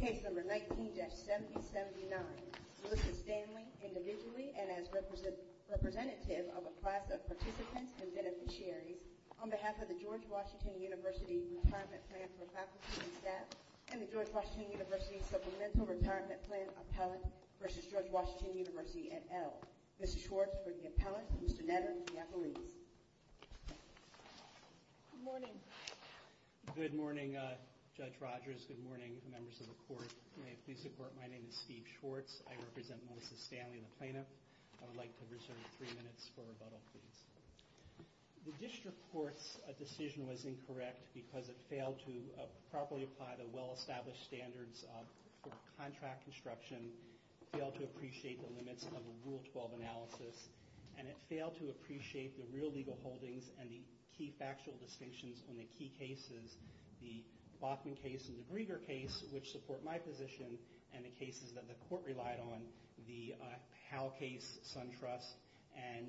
Case number 19-7079. Melissa Stanley, individually and as representative of a class of participants and beneficiaries, on behalf of the George Washington University Retirement Plan for Faculty and Staff and the George Washington University Supplemental Retirement Plan Appellant v. George Washington University et al. Mr. Schwartz for the Appellants and Mr. Netter for the Appellees. Good morning. Good morning, Judge Rogers. Good morning, members of the Court. May it please the Court, my name is Steve Schwartz. I represent Melissa Stanley, the Plaintiff. I would like to reserve three minutes for rebuttal, please. The District Court's decision was incorrect because it failed to properly apply the well-established standards for contract construction, failed to appreciate the limits of a Rule 12 analysis, and it failed to appreciate the real legal holdings and the key factual distinctions on the key cases, the Bachman case and the Grieger case, which support my position, and the cases that the Court relied on, the Howe case, SunTrust, and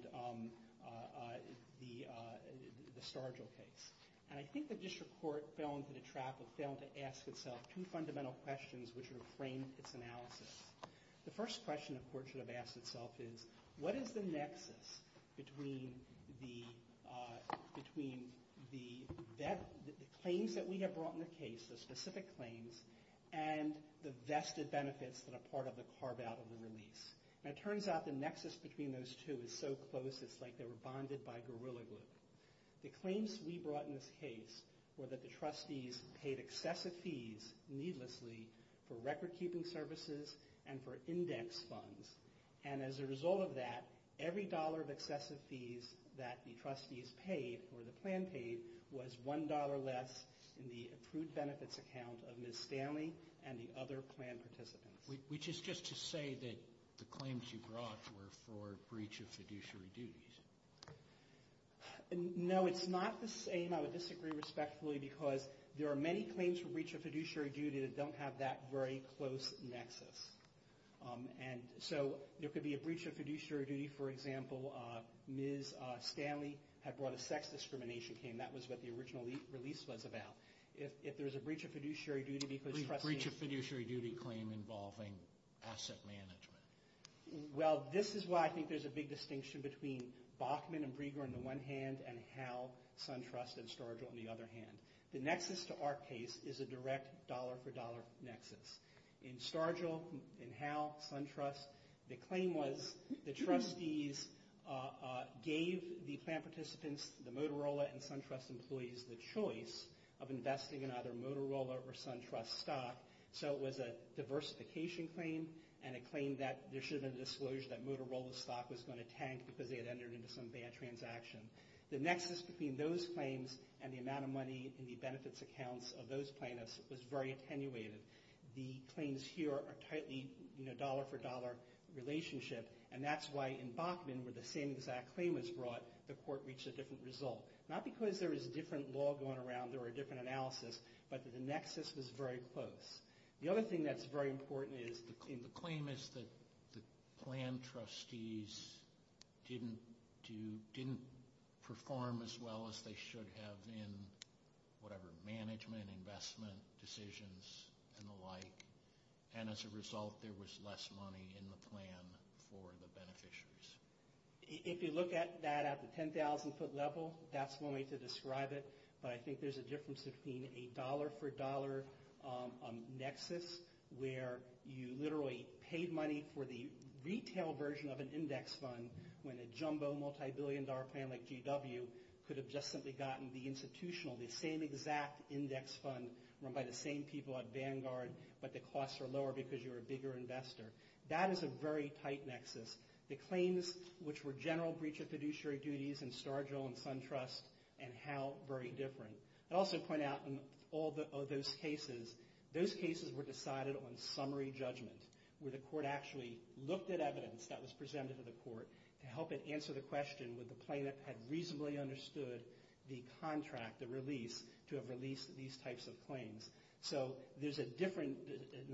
the Stargill case. And I think the District Court fell into the trap of failing to ask itself two fundamental questions which would have framed its analysis. The first question the Court should have asked itself is, what is the nexus between the claims that we have brought in the case, the specific claims, and the vested benefits that are part of the carve-out of the release? And it turns out the nexus between those two is so close it's like they were bonded by Gorilla Glue. The claims we brought in this case were that the trustees paid excessive fees, needlessly, for record-keeping services and for index funds. And as a result of that, every dollar of excessive fees that the trustees paid, or the plan paid, was $1 less in the approved benefits account of Ms. Stanley and the other plan participants. Which is just to say that the claims you brought were for breach of fiduciary duties. No, it's not the same. I would disagree respectfully because there are many claims for breach of fiduciary duty that don't have that very close nexus. And so there could be a breach of fiduciary duty. For example, Ms. Stanley had brought a sex discrimination claim. That was what the original release was about. If there's a breach of fiduciary duty because trustees... A breach of fiduciary duty claim involving asset management. Well, this is why I think there's a big distinction between Bachman and Brieger on the one hand and Howe, SunTrust, and Stargell on the other hand. The nexus to our case is a direct dollar-for-dollar nexus. In Stargell, in Howe, SunTrust, the claim was the trustees gave the plan participants, the Motorola and SunTrust employees, the choice of investing in either Motorola or SunTrust stock. So it was a diversification claim and a claim that there should have been a disclosure that Motorola stock was going to tank because they had entered into some bad transaction. The nexus between those claims and the amount of money in the benefits accounts of those plaintiffs was very attenuated. The claims here are tightly dollar-for-dollar relationship, and that's why in Bachman where the same exact claim was brought, the court reached a different result. Not because there was a different law going around or a different analysis, but the nexus was very close. The other thing that's very important is the claim is that the plan trustees didn't perform as well as they should have in whatever management, investment decisions, and the like. And as a result, there was less money in the plan for the beneficiaries. If you look at that at the 10,000-foot level, that's one way to describe it, but I think there's a difference between a dollar-for-dollar nexus where you literally paid money for the retail version of an index fund when a jumbo multi-billion dollar plan like GW could have just simply gotten the institutional, the same exact index fund run by the same people at Vanguard, but the costs are lower because you're a bigger investor. That is a very tight nexus. The claims which were general breach of fiduciary duties in Stargell and SunTrust and Howe, very different. I'd also point out in all of those cases, those cases were decided on summary judgment where the court actually looked at evidence that was presented to the court to help it answer the question would the plaintiff have reasonably understood the contract, the release, to have released these types of claims. So there's an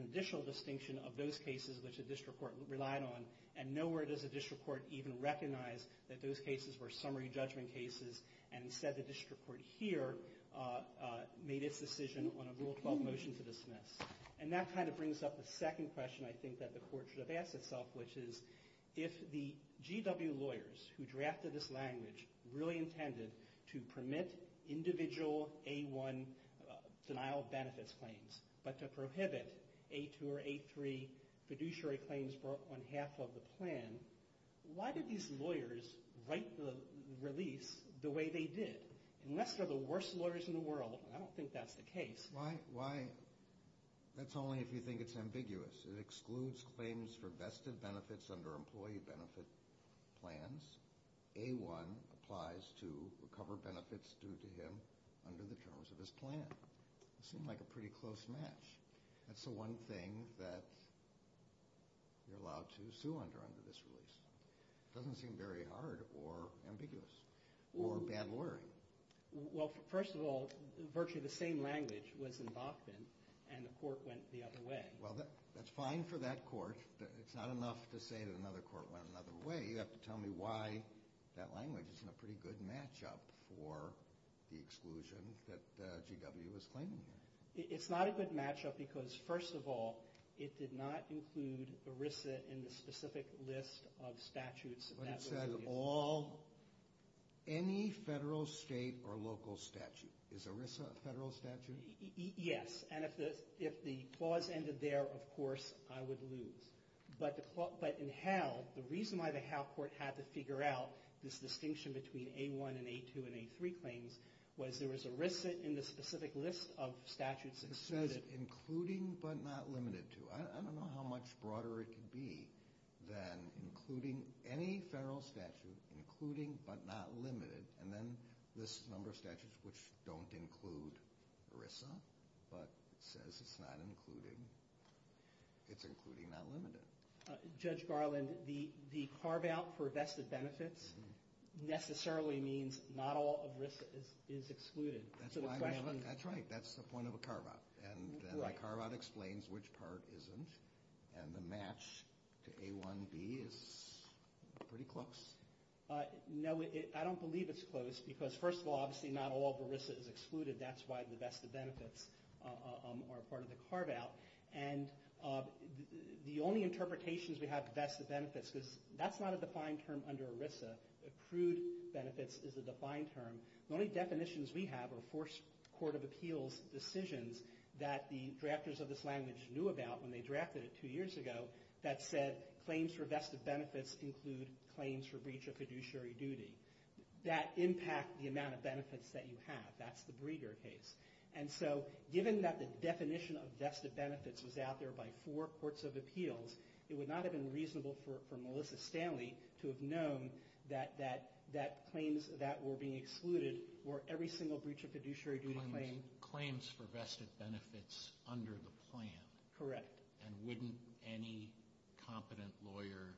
additional distinction of those cases which the district court relied on and nowhere does the district court even recognize that those cases were summary judgment cases and instead the district court here made its decision on a Rule 12 motion to dismiss. And that kind of brings up the second question I think that the court should have asked itself, which is if the GW lawyers who drafted this language really intended to permit individual A1 denial of benefits claims, but to prohibit A2 or A3 fiduciary claims brought on half of the plan, why did these lawyers write the release the way they did? Unless they're the worst lawyers in the world, and I don't think that's the case. Why? That's only if you think it's ambiguous. It excludes claims for vested benefits under employee benefit plans. A1 applies to recover benefits due to him under the terms of his plan. It seemed like a pretty close match. That's the one thing that you're allowed to sue under under this release. It doesn't seem very hard or ambiguous or bad lawyering. Well, first of all, virtually the same language was in Bachman and the court went the other way. Well, that's fine for that court. It's not enough to say that another court went another way. You have to tell me why that language isn't a pretty good matchup for the exclusion that GW is claiming here. It's not a good matchup because, first of all, it did not include ERISA in the specific list of statutes. But it said all, any federal, state, or local statute. Is ERISA a federal statute? Yes, and if the clause ended there, of course, I would lose. But in HAL, the reason why the HAL court had to figure out this distinction between A1 and A2 and A3 claims was there was ERISA in the specific list of statutes. It says including but not limited to. I don't know how much broader it could be than including any federal statute, including but not limited, and then this number of statutes which don't include ERISA, but it says it's including but not limited. Judge Garland, the carve-out for vested benefits necessarily means not all of ERISA is excluded. That's right. That's the point of a carve-out. And then the carve-out explains which part isn't, and the match to A1B is pretty close. No, I don't believe it's close because, first of all, obviously not all of ERISA is excluded. That's why the vested benefits are part of the carve-out. And the only interpretations we have of vested benefits, because that's not a defined term under ERISA. Accrued benefits is a defined term. The only definitions we have are forced court of appeals decisions that the drafters of this language knew about when they drafted it two years ago that said claims for vested benefits include claims for breach of fiduciary duty. That impact the amount of benefits that you have. That's the Breger case. And so given that the definition of vested benefits was out there by four courts of appeals, it would not have been reasonable for Melissa Stanley to have known that claims that were being excluded were every single breach of fiduciary duty claim. So claims for vested benefits under the plan. Correct. And wouldn't any competent lawyer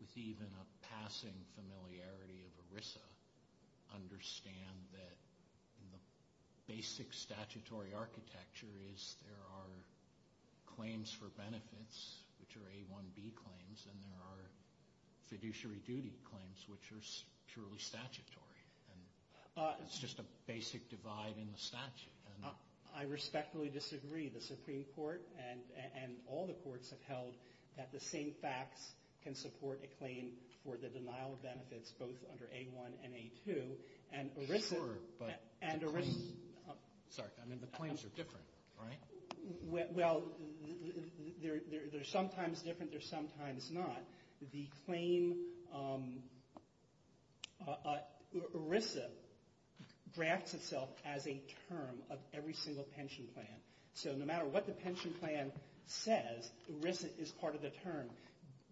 with even a passing familiarity of ERISA understand that the basic statutory architecture is there are claims for benefits, which are A1B claims, and there are fiduciary duty claims, which are purely statutory. It's just a basic divide in the statute. I respectfully disagree. The Supreme Court and all the courts have held that the same facts can support a claim for the denial of benefits, both under A1 and A2. Sure, but the claims are different, right? Well, they're sometimes different. They're sometimes not. The claim ERISA drafts itself as a term of every single pension plan. So no matter what the pension plan says, ERISA is part of the term.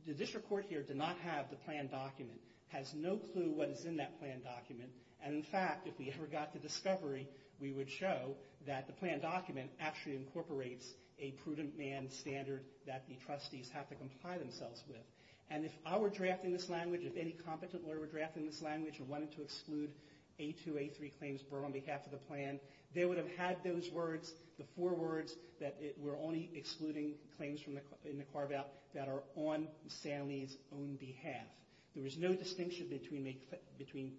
This report here did not have the plan document, has no clue what is in that plan document. And, in fact, if we ever got to discovery, we would show that the plan document actually incorporates a prudent man standard that the trustees have to comply themselves with. And if I were drafting this language, if any competent lawyer were drafting this language and wanted to exclude A2, A3 claims on behalf of the plan, they would have had those words, the four words that were only excluding claims in the carve-out that are on Ms. Stanley's own behalf. There was no distinction between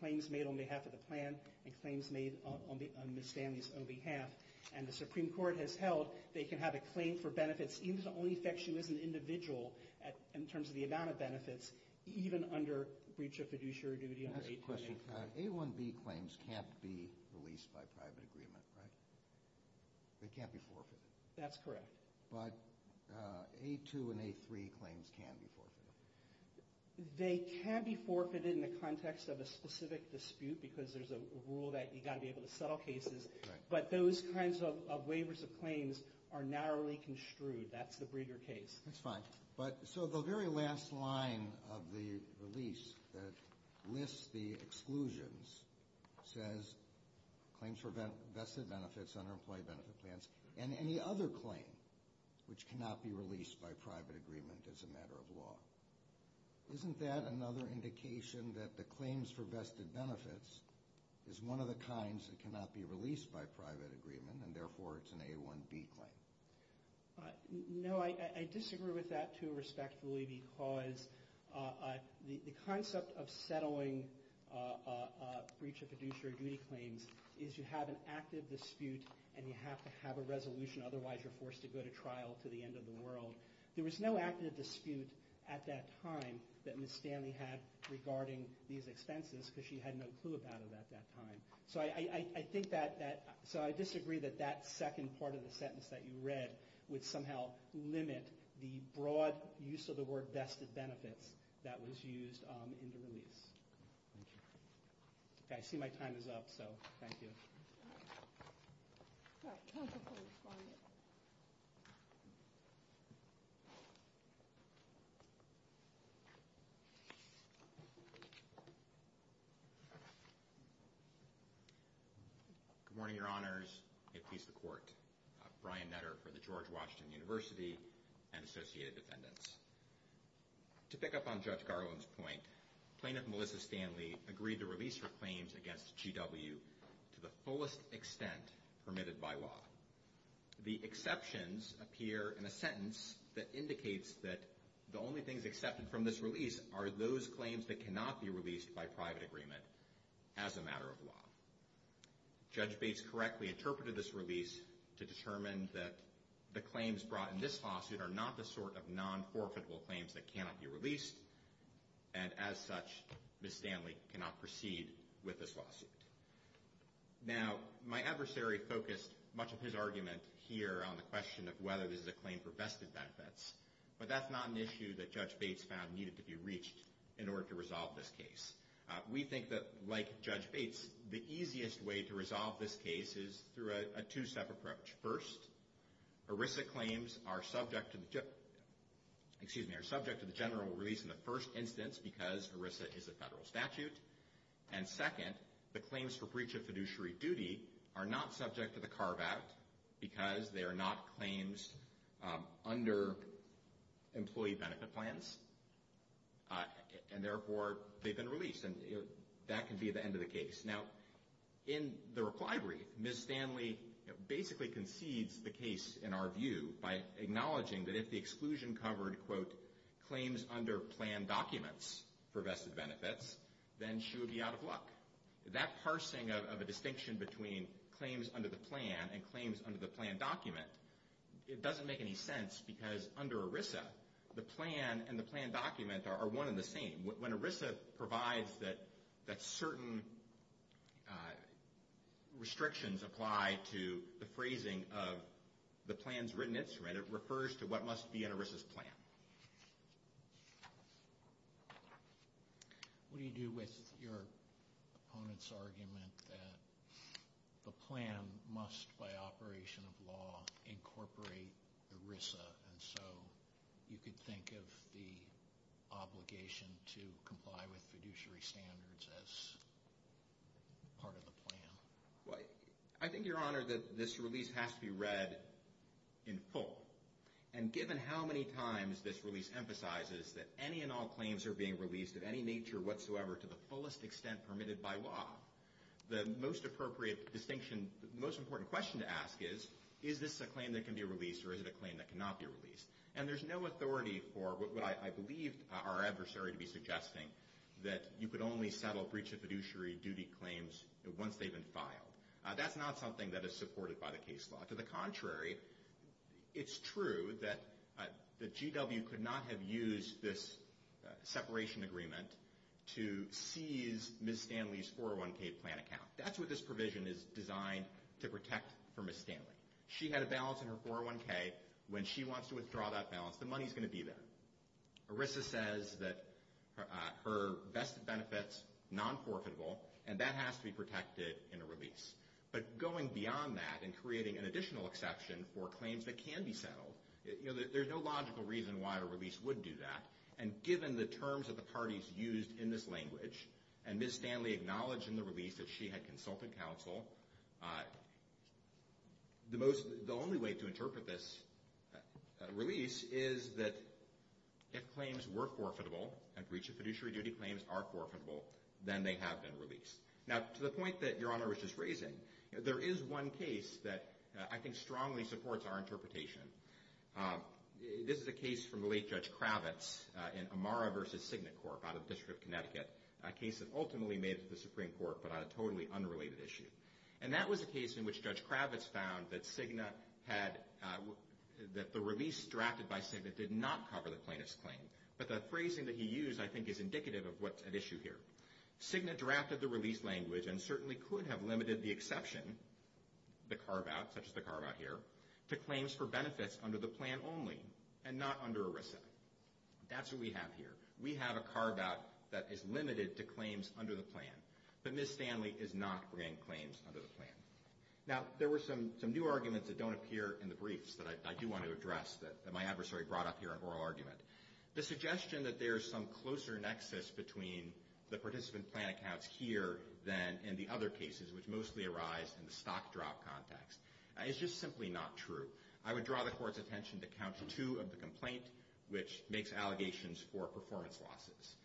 claims made on behalf of the plan and claims made on Ms. Stanley's own behalf. And the Supreme Court has held they can have a claim for benefits, even if it only affects you as an individual, in terms of the amount of benefits, even under breach of fiduciary duty under 824. I have a question. A1B claims can't be released by private agreement, right? They can't be forfeited. That's correct. But A2 and A3 claims can be forfeited. They can be forfeited in the context of a specific dispute because there's a rule that you've got to be able to settle cases. But those kinds of waivers of claims are narrowly construed. That's the Breger case. That's fine. But so the very last line of the release that lists the exclusions says claims for vested benefits under employee benefit plans and any other claim which cannot be released by private agreement as a matter of law. Isn't that another indication that the claims for vested benefits is one of the kinds that cannot be released by private agreement and therefore it's an A1B claim? No. I disagree with that too, respectfully, because the concept of settling breach of fiduciary duty claims is you have an active dispute and you have to have a resolution. Otherwise, you're forced to go to trial to the end of the world. There was no active dispute at that time that Ms. Stanley had regarding these expenses because she had no clue about it at that time. So I disagree that that second part of the sentence that you read would somehow limit the broad use of the word vested benefits that was used in the release. I see my time is up, so thank you. Good morning, Your Honors. May it please the Court. Brian Netter for the George Washington University and Associated Defendants. To pick up on Judge Garland's point, Plaintiff Melissa Stanley agreed to release her claims against GW to the fullest extent permitted by law. The exceptions appear in a sentence that indicates that the only things accepted from this release are those claims that cannot be released by private agreement as a matter of law. Judge Bates correctly interpreted this release to determine that the claims brought in this lawsuit are not the sort of non-forfeitable claims that cannot be released, and as such, Ms. Stanley cannot proceed with this lawsuit. Now, my adversary focused much of his argument here on the question of whether this is a claim for vested benefits, but that's not an issue that Judge Bates found needed to be reached in order to resolve this case. We think that, like Judge Bates, the easiest way to resolve this case is through a two-step approach. First, ERISA claims are subject to the general release in the first instance because ERISA is a federal statute, and second, the claims for breach of fiduciary duty are not subject to the CARB Act because they are not claims under employee benefit plans, and therefore, they've been released, and that can be the end of the case. Now, in the reply brief, Ms. Stanley basically concedes the case in our view by acknowledging that if the exclusion covered, quote, then she would be out of luck. That parsing of a distinction between claims under the plan and claims under the plan document, it doesn't make any sense because under ERISA, the plan and the plan document are one and the same. When ERISA provides that certain restrictions apply to the phrasing of the plan's written instrument, it refers to what must be in ERISA's plan. What do you do with your opponent's argument that the plan must, by operation of law, incorporate ERISA, and so you could think of the obligation to comply with fiduciary standards as part of the plan? I think, Your Honor, that this release has to be read in full, and given how many times this release emphasizes that any and all claims are being released of any nature whatsoever to the fullest extent permitted by law, the most appropriate distinction, the most important question to ask is, is this a claim that can be released or is it a claim that cannot be released? And there's no authority for what I believe our adversary to be suggesting, that you could only settle breach of fiduciary duty claims once they've been filed. That's not something that is supported by the case law. To the contrary, it's true that GW could not have used this separation agreement to seize Ms. Stanley's 401k plan account. That's what this provision is designed to protect for Ms. Stanley. She had a balance in her 401k. When she wants to withdraw that balance, the money's going to be there. ERISA says that her vested benefit's non-forfeitable, and that has to be protected in a release. But going beyond that and creating an additional exception for claims that can be settled, there's no logical reason why a release would do that. And given the terms that the parties used in this language, and Ms. Stanley acknowledged in the release that she had consulted counsel, the only way to interpret this release is that if claims were forfeitable, and breach of fiduciary duty claims are forfeitable, then they have been released. Now, to the point that Your Honor was just raising, there is one case that I think strongly supports our interpretation. This is a case from the late Judge Kravitz in Amara v. Cigna Corp. out of the District of Connecticut, a case that ultimately made it to the Supreme Court but on a totally unrelated issue. And that was a case in which Judge Kravitz found that the release drafted by Cigna did not cover the plaintiff's claim. But the phrasing that he used, I think, is indicative of what's at issue here. Cigna drafted the release language and certainly could have limited the exception, the carve-out, such as the carve-out here, to claims for benefits under the plan only and not under ERISA. That's what we have here. We have a carve-out that is limited to claims under the plan. But Ms. Stanley is not bringing claims under the plan. Now, there were some new arguments that don't appear in the briefs that I do want to address, that my adversary brought up here in oral argument. The suggestion that there is some closer nexus between the participant plan accounts here than in the other cases, which mostly arise in the stock drop context, is just simply not true. I would draw the Court's attention to Count 2 of the complaint, which makes allegations for performance losses.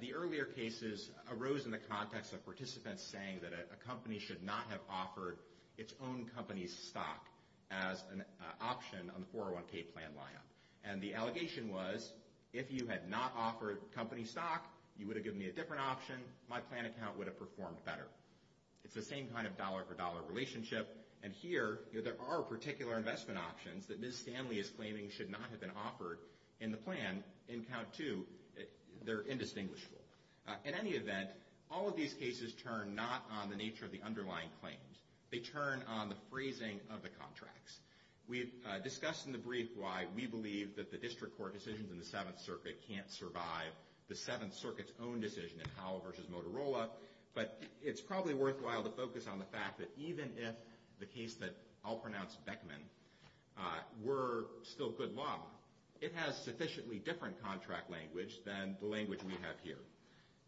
The earlier cases arose in the context of participants saying that a company should not have offered its own company's stock as an option on the 401k plan line-up. And the allegation was, if you had not offered company stock, you would have given me a different option, my plan account would have performed better. It's the same kind of dollar-for-dollar relationship. And here, there are particular investment options that Ms. Stanley is claiming should not have been offered in the plan in Count 2. They're indistinguishable. In any event, all of these cases turn not on the nature of the underlying claims. They turn on the phrasing of the contracts. We discussed in the brief why we believe that the district court decisions in the Seventh Circuit can't survive the Seventh Circuit's own decision in Howell v. Motorola, but it's probably worthwhile to focus on the fact that even if the case that I'll pronounce Beckman were still good law, it has sufficiently different contract language than the language we have here.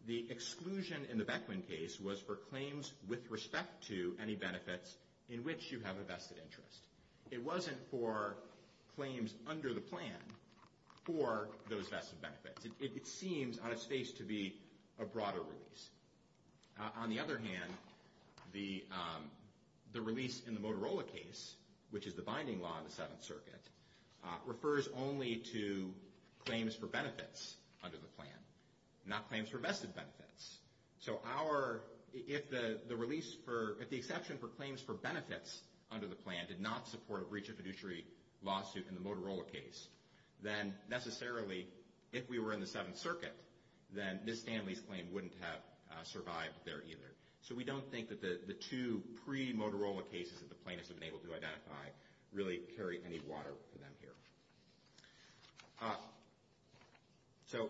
The exclusion in the Beckman case was for claims with respect to any benefits in which you have a vested interest. It wasn't for claims under the plan for those vested benefits. It seems, on its face, to be a broader release. On the other hand, the release in the Motorola case, which is the binding law in the Seventh Circuit, refers only to claims for benefits under the plan, not claims for vested benefits. So if the exception for claims for benefits under the plan did not support a breach of fiduciary lawsuit in the Motorola case, then necessarily, if we were in the Seventh Circuit, then Ms. Stanley's claim wouldn't have survived there either. So we don't think that the two pre-Motorola cases that the plaintiffs have been able to identify really carry any water for them here. So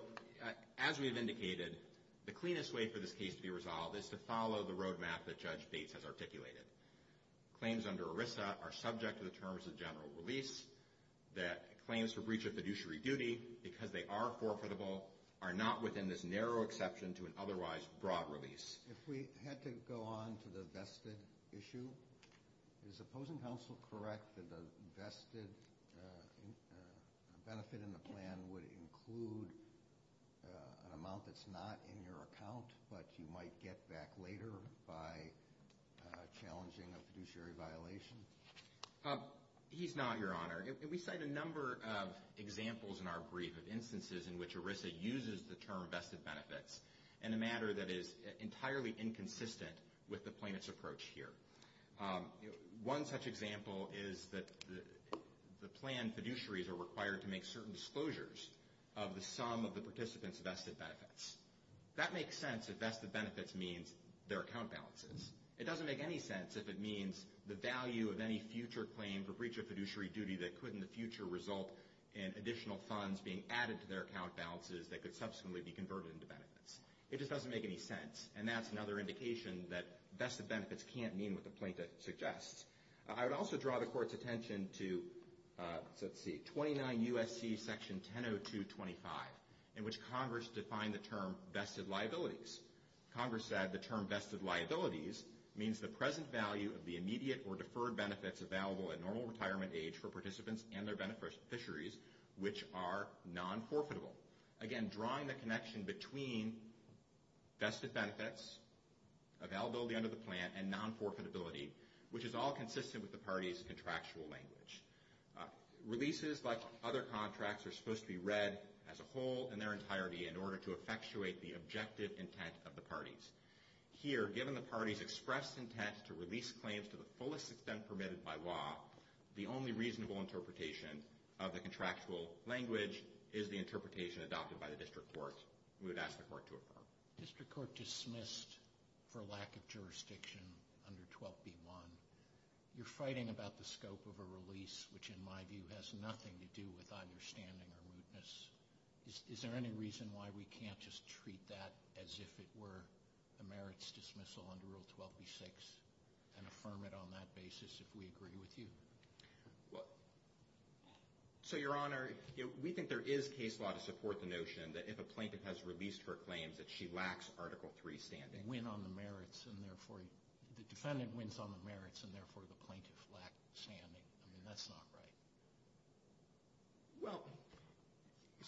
as we have indicated, the cleanest way for this case to be resolved is to follow the roadmap that Judge Bates has articulated. Claims under ERISA are subject to the terms of general release. Claims for breach of fiduciary duty, because they are forfeitable, are not within this narrow exception to an otherwise broad release. If we had to go on to the vested issue, is opposing counsel correct that the vested benefit in the plan would include an amount that's not in your account but you might get back later by challenging a fiduciary violation? He's not, Your Honor. We cite a number of examples in our brief of instances in which ERISA uses the term vested benefits in a matter that is entirely inconsistent with the plaintiff's approach here. One such example is that the plan fiduciaries are required to make certain disclosures of the sum of the participants' vested benefits. That makes sense if vested benefits means their account balances. It doesn't make any sense if it means the value of any future claim for breach of fiduciary duty that could in the future result in additional funds being added to their account balances that could subsequently be converted into benefits. It just doesn't make any sense. And that's another indication that vested benefits can't mean what the plaintiff suggests. I would also draw the Court's attention to, let's see, 29 U.S.C. Section 1002.25, in which Congress defined the term vested liabilities. Congress said the term vested liabilities means the present value of the immediate or deferred benefits available at normal retirement age for participants and their beneficiaries, which are non-forfeitable. Again, drawing the connection between vested benefits, availability under the plan, and non-forfeitability, which is all consistent with the party's contractual language. Releases, like other contracts, are supposed to be read as a whole in their entirety in order to effectuate the objective intent of the parties. Here, given the party's expressed intent to release claims to the fullest extent permitted by law, the only reasonable interpretation of the contractual language is the interpretation adopted by the District Court. We would ask the Court to affirm. District Court dismissed for lack of jurisdiction under 12b.1. You're fighting about the scope of a release, which in my view has nothing to do with understanding or mootness. Is there any reason why we can't just treat that as if it were a merits dismissal under Rule 12b.6 and affirm it on that basis if we agree with you? So, Your Honor, we think there is case law to support the notion that if a plaintiff has released her claims that she lacks Article III standing. The defendant wins on the merits and therefore the plaintiff lacks standing. I mean, that's not right. Well,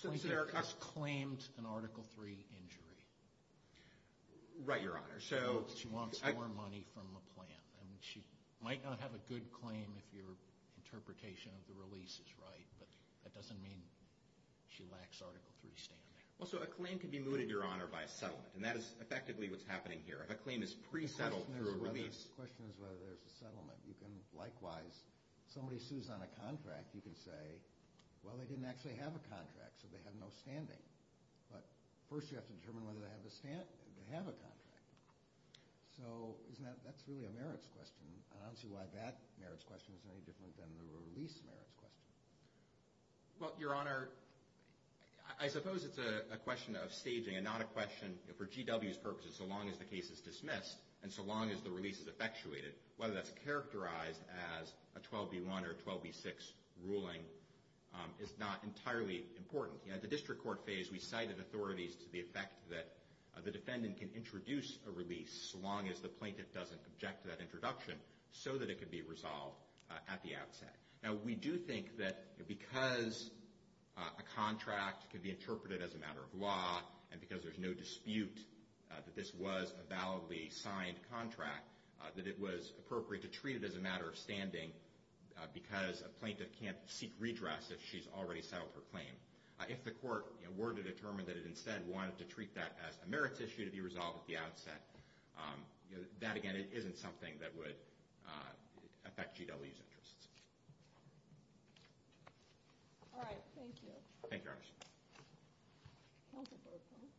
since there are... The plaintiff has claimed an Article III injury. Right, Your Honor, so... She wants more money from the plan. I mean, she might not have a good claim if your interpretation of the release is right, but that doesn't mean she lacks Article III standing. Well, so a claim can be mooted, Your Honor, by a settlement, and that is effectively what's happening here. If a claim is pre-settled through a release... The question is whether there's a settlement. You can likewise... If somebody sues on a contract, you can say, well, they didn't actually have a contract, so they have no standing. But first you have to determine whether they have a contract. So that's really a merits question, and I don't see why that merits question is any different than the release merits question. Well, Your Honor, I suppose it's a question of staging and not a question... For GW's purposes, so long as the case is dismissed and so long as the release is effectuated, whether that's characterized as a 12B1 or a 12B6 ruling is not entirely important. At the district court phase, we cited authorities to the effect that the defendant can introduce a release so long as the plaintiff doesn't object to that introduction so that it can be resolved at the outset. Now, we do think that because a contract could be interpreted as a matter of law and because there's no dispute that this was a validly signed contract, that it was appropriate to treat it as a matter of standing because a plaintiff can't seek redress if she's already settled her claim. If the court were to determine that it instead wanted to treat that as a merits issue to be resolved at the outset, that, again, isn't something that would affect GW's interests. Thank you, Your Honor. Counsel Berkowitz.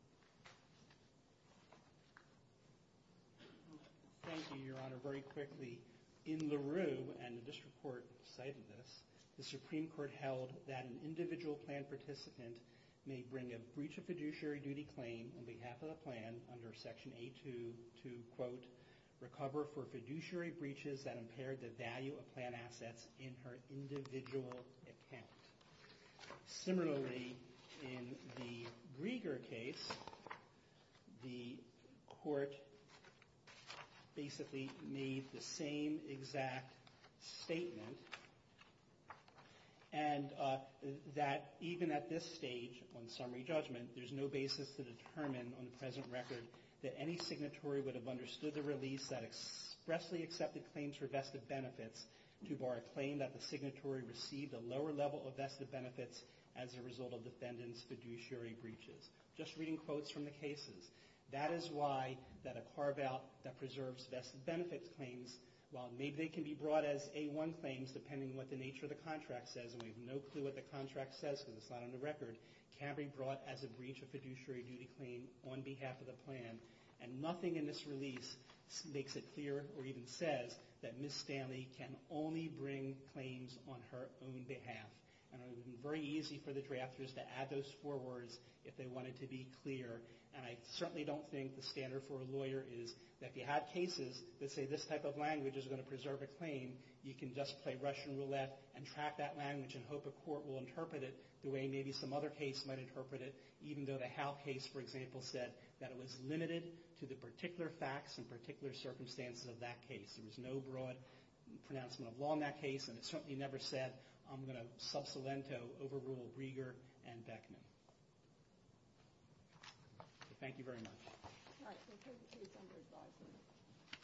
Thank you, Your Honor. Very quickly, in LaRue, and the district court cited this, the Supreme Court held that an individual plan participant may bring a breach of fiduciary duty claim on behalf of the plan under Section A2 to, quote, recover for fiduciary breaches that impaired the value of plan assets in her individual account. Similarly, in the Grieger case, the court basically made the same exact statement and that even at this stage on summary judgment, there's no basis to determine on the present record that any signatory would have understood the release that expressly accepted claims for vested benefits to bar a claim that the signatory received a lower level of vested benefits as a result of defendant's fiduciary breaches. Just reading quotes from the cases, that is why that a carve-out that preserves vested benefits claims, while maybe they can be brought as A1 claims depending on what the nature of the contract says, and we have no clue what the contract says because it's not on the record, can't be brought as a breach of fiduciary duty claim on behalf of the plan. And nothing in this release makes it clear or even says that Ms. Stanley can only bring claims on her own behalf. And it would have been very easy for the drafters to add those forwards if they wanted to be clear. And I certainly don't think the standard for a lawyer is that if you have cases that say this type of language is going to preserve a claim, you can just play Russian roulette and track that language and hope a court will interpret it the way maybe some other case might interpret it, even though the Howe case, for example, said that it was limited to the particular facts and particular circumstances of that case. There was no broad pronouncement of law in that case, and it certainly never said, I'm going to sub salento overrule Rieger and Beckman. Thank you very much.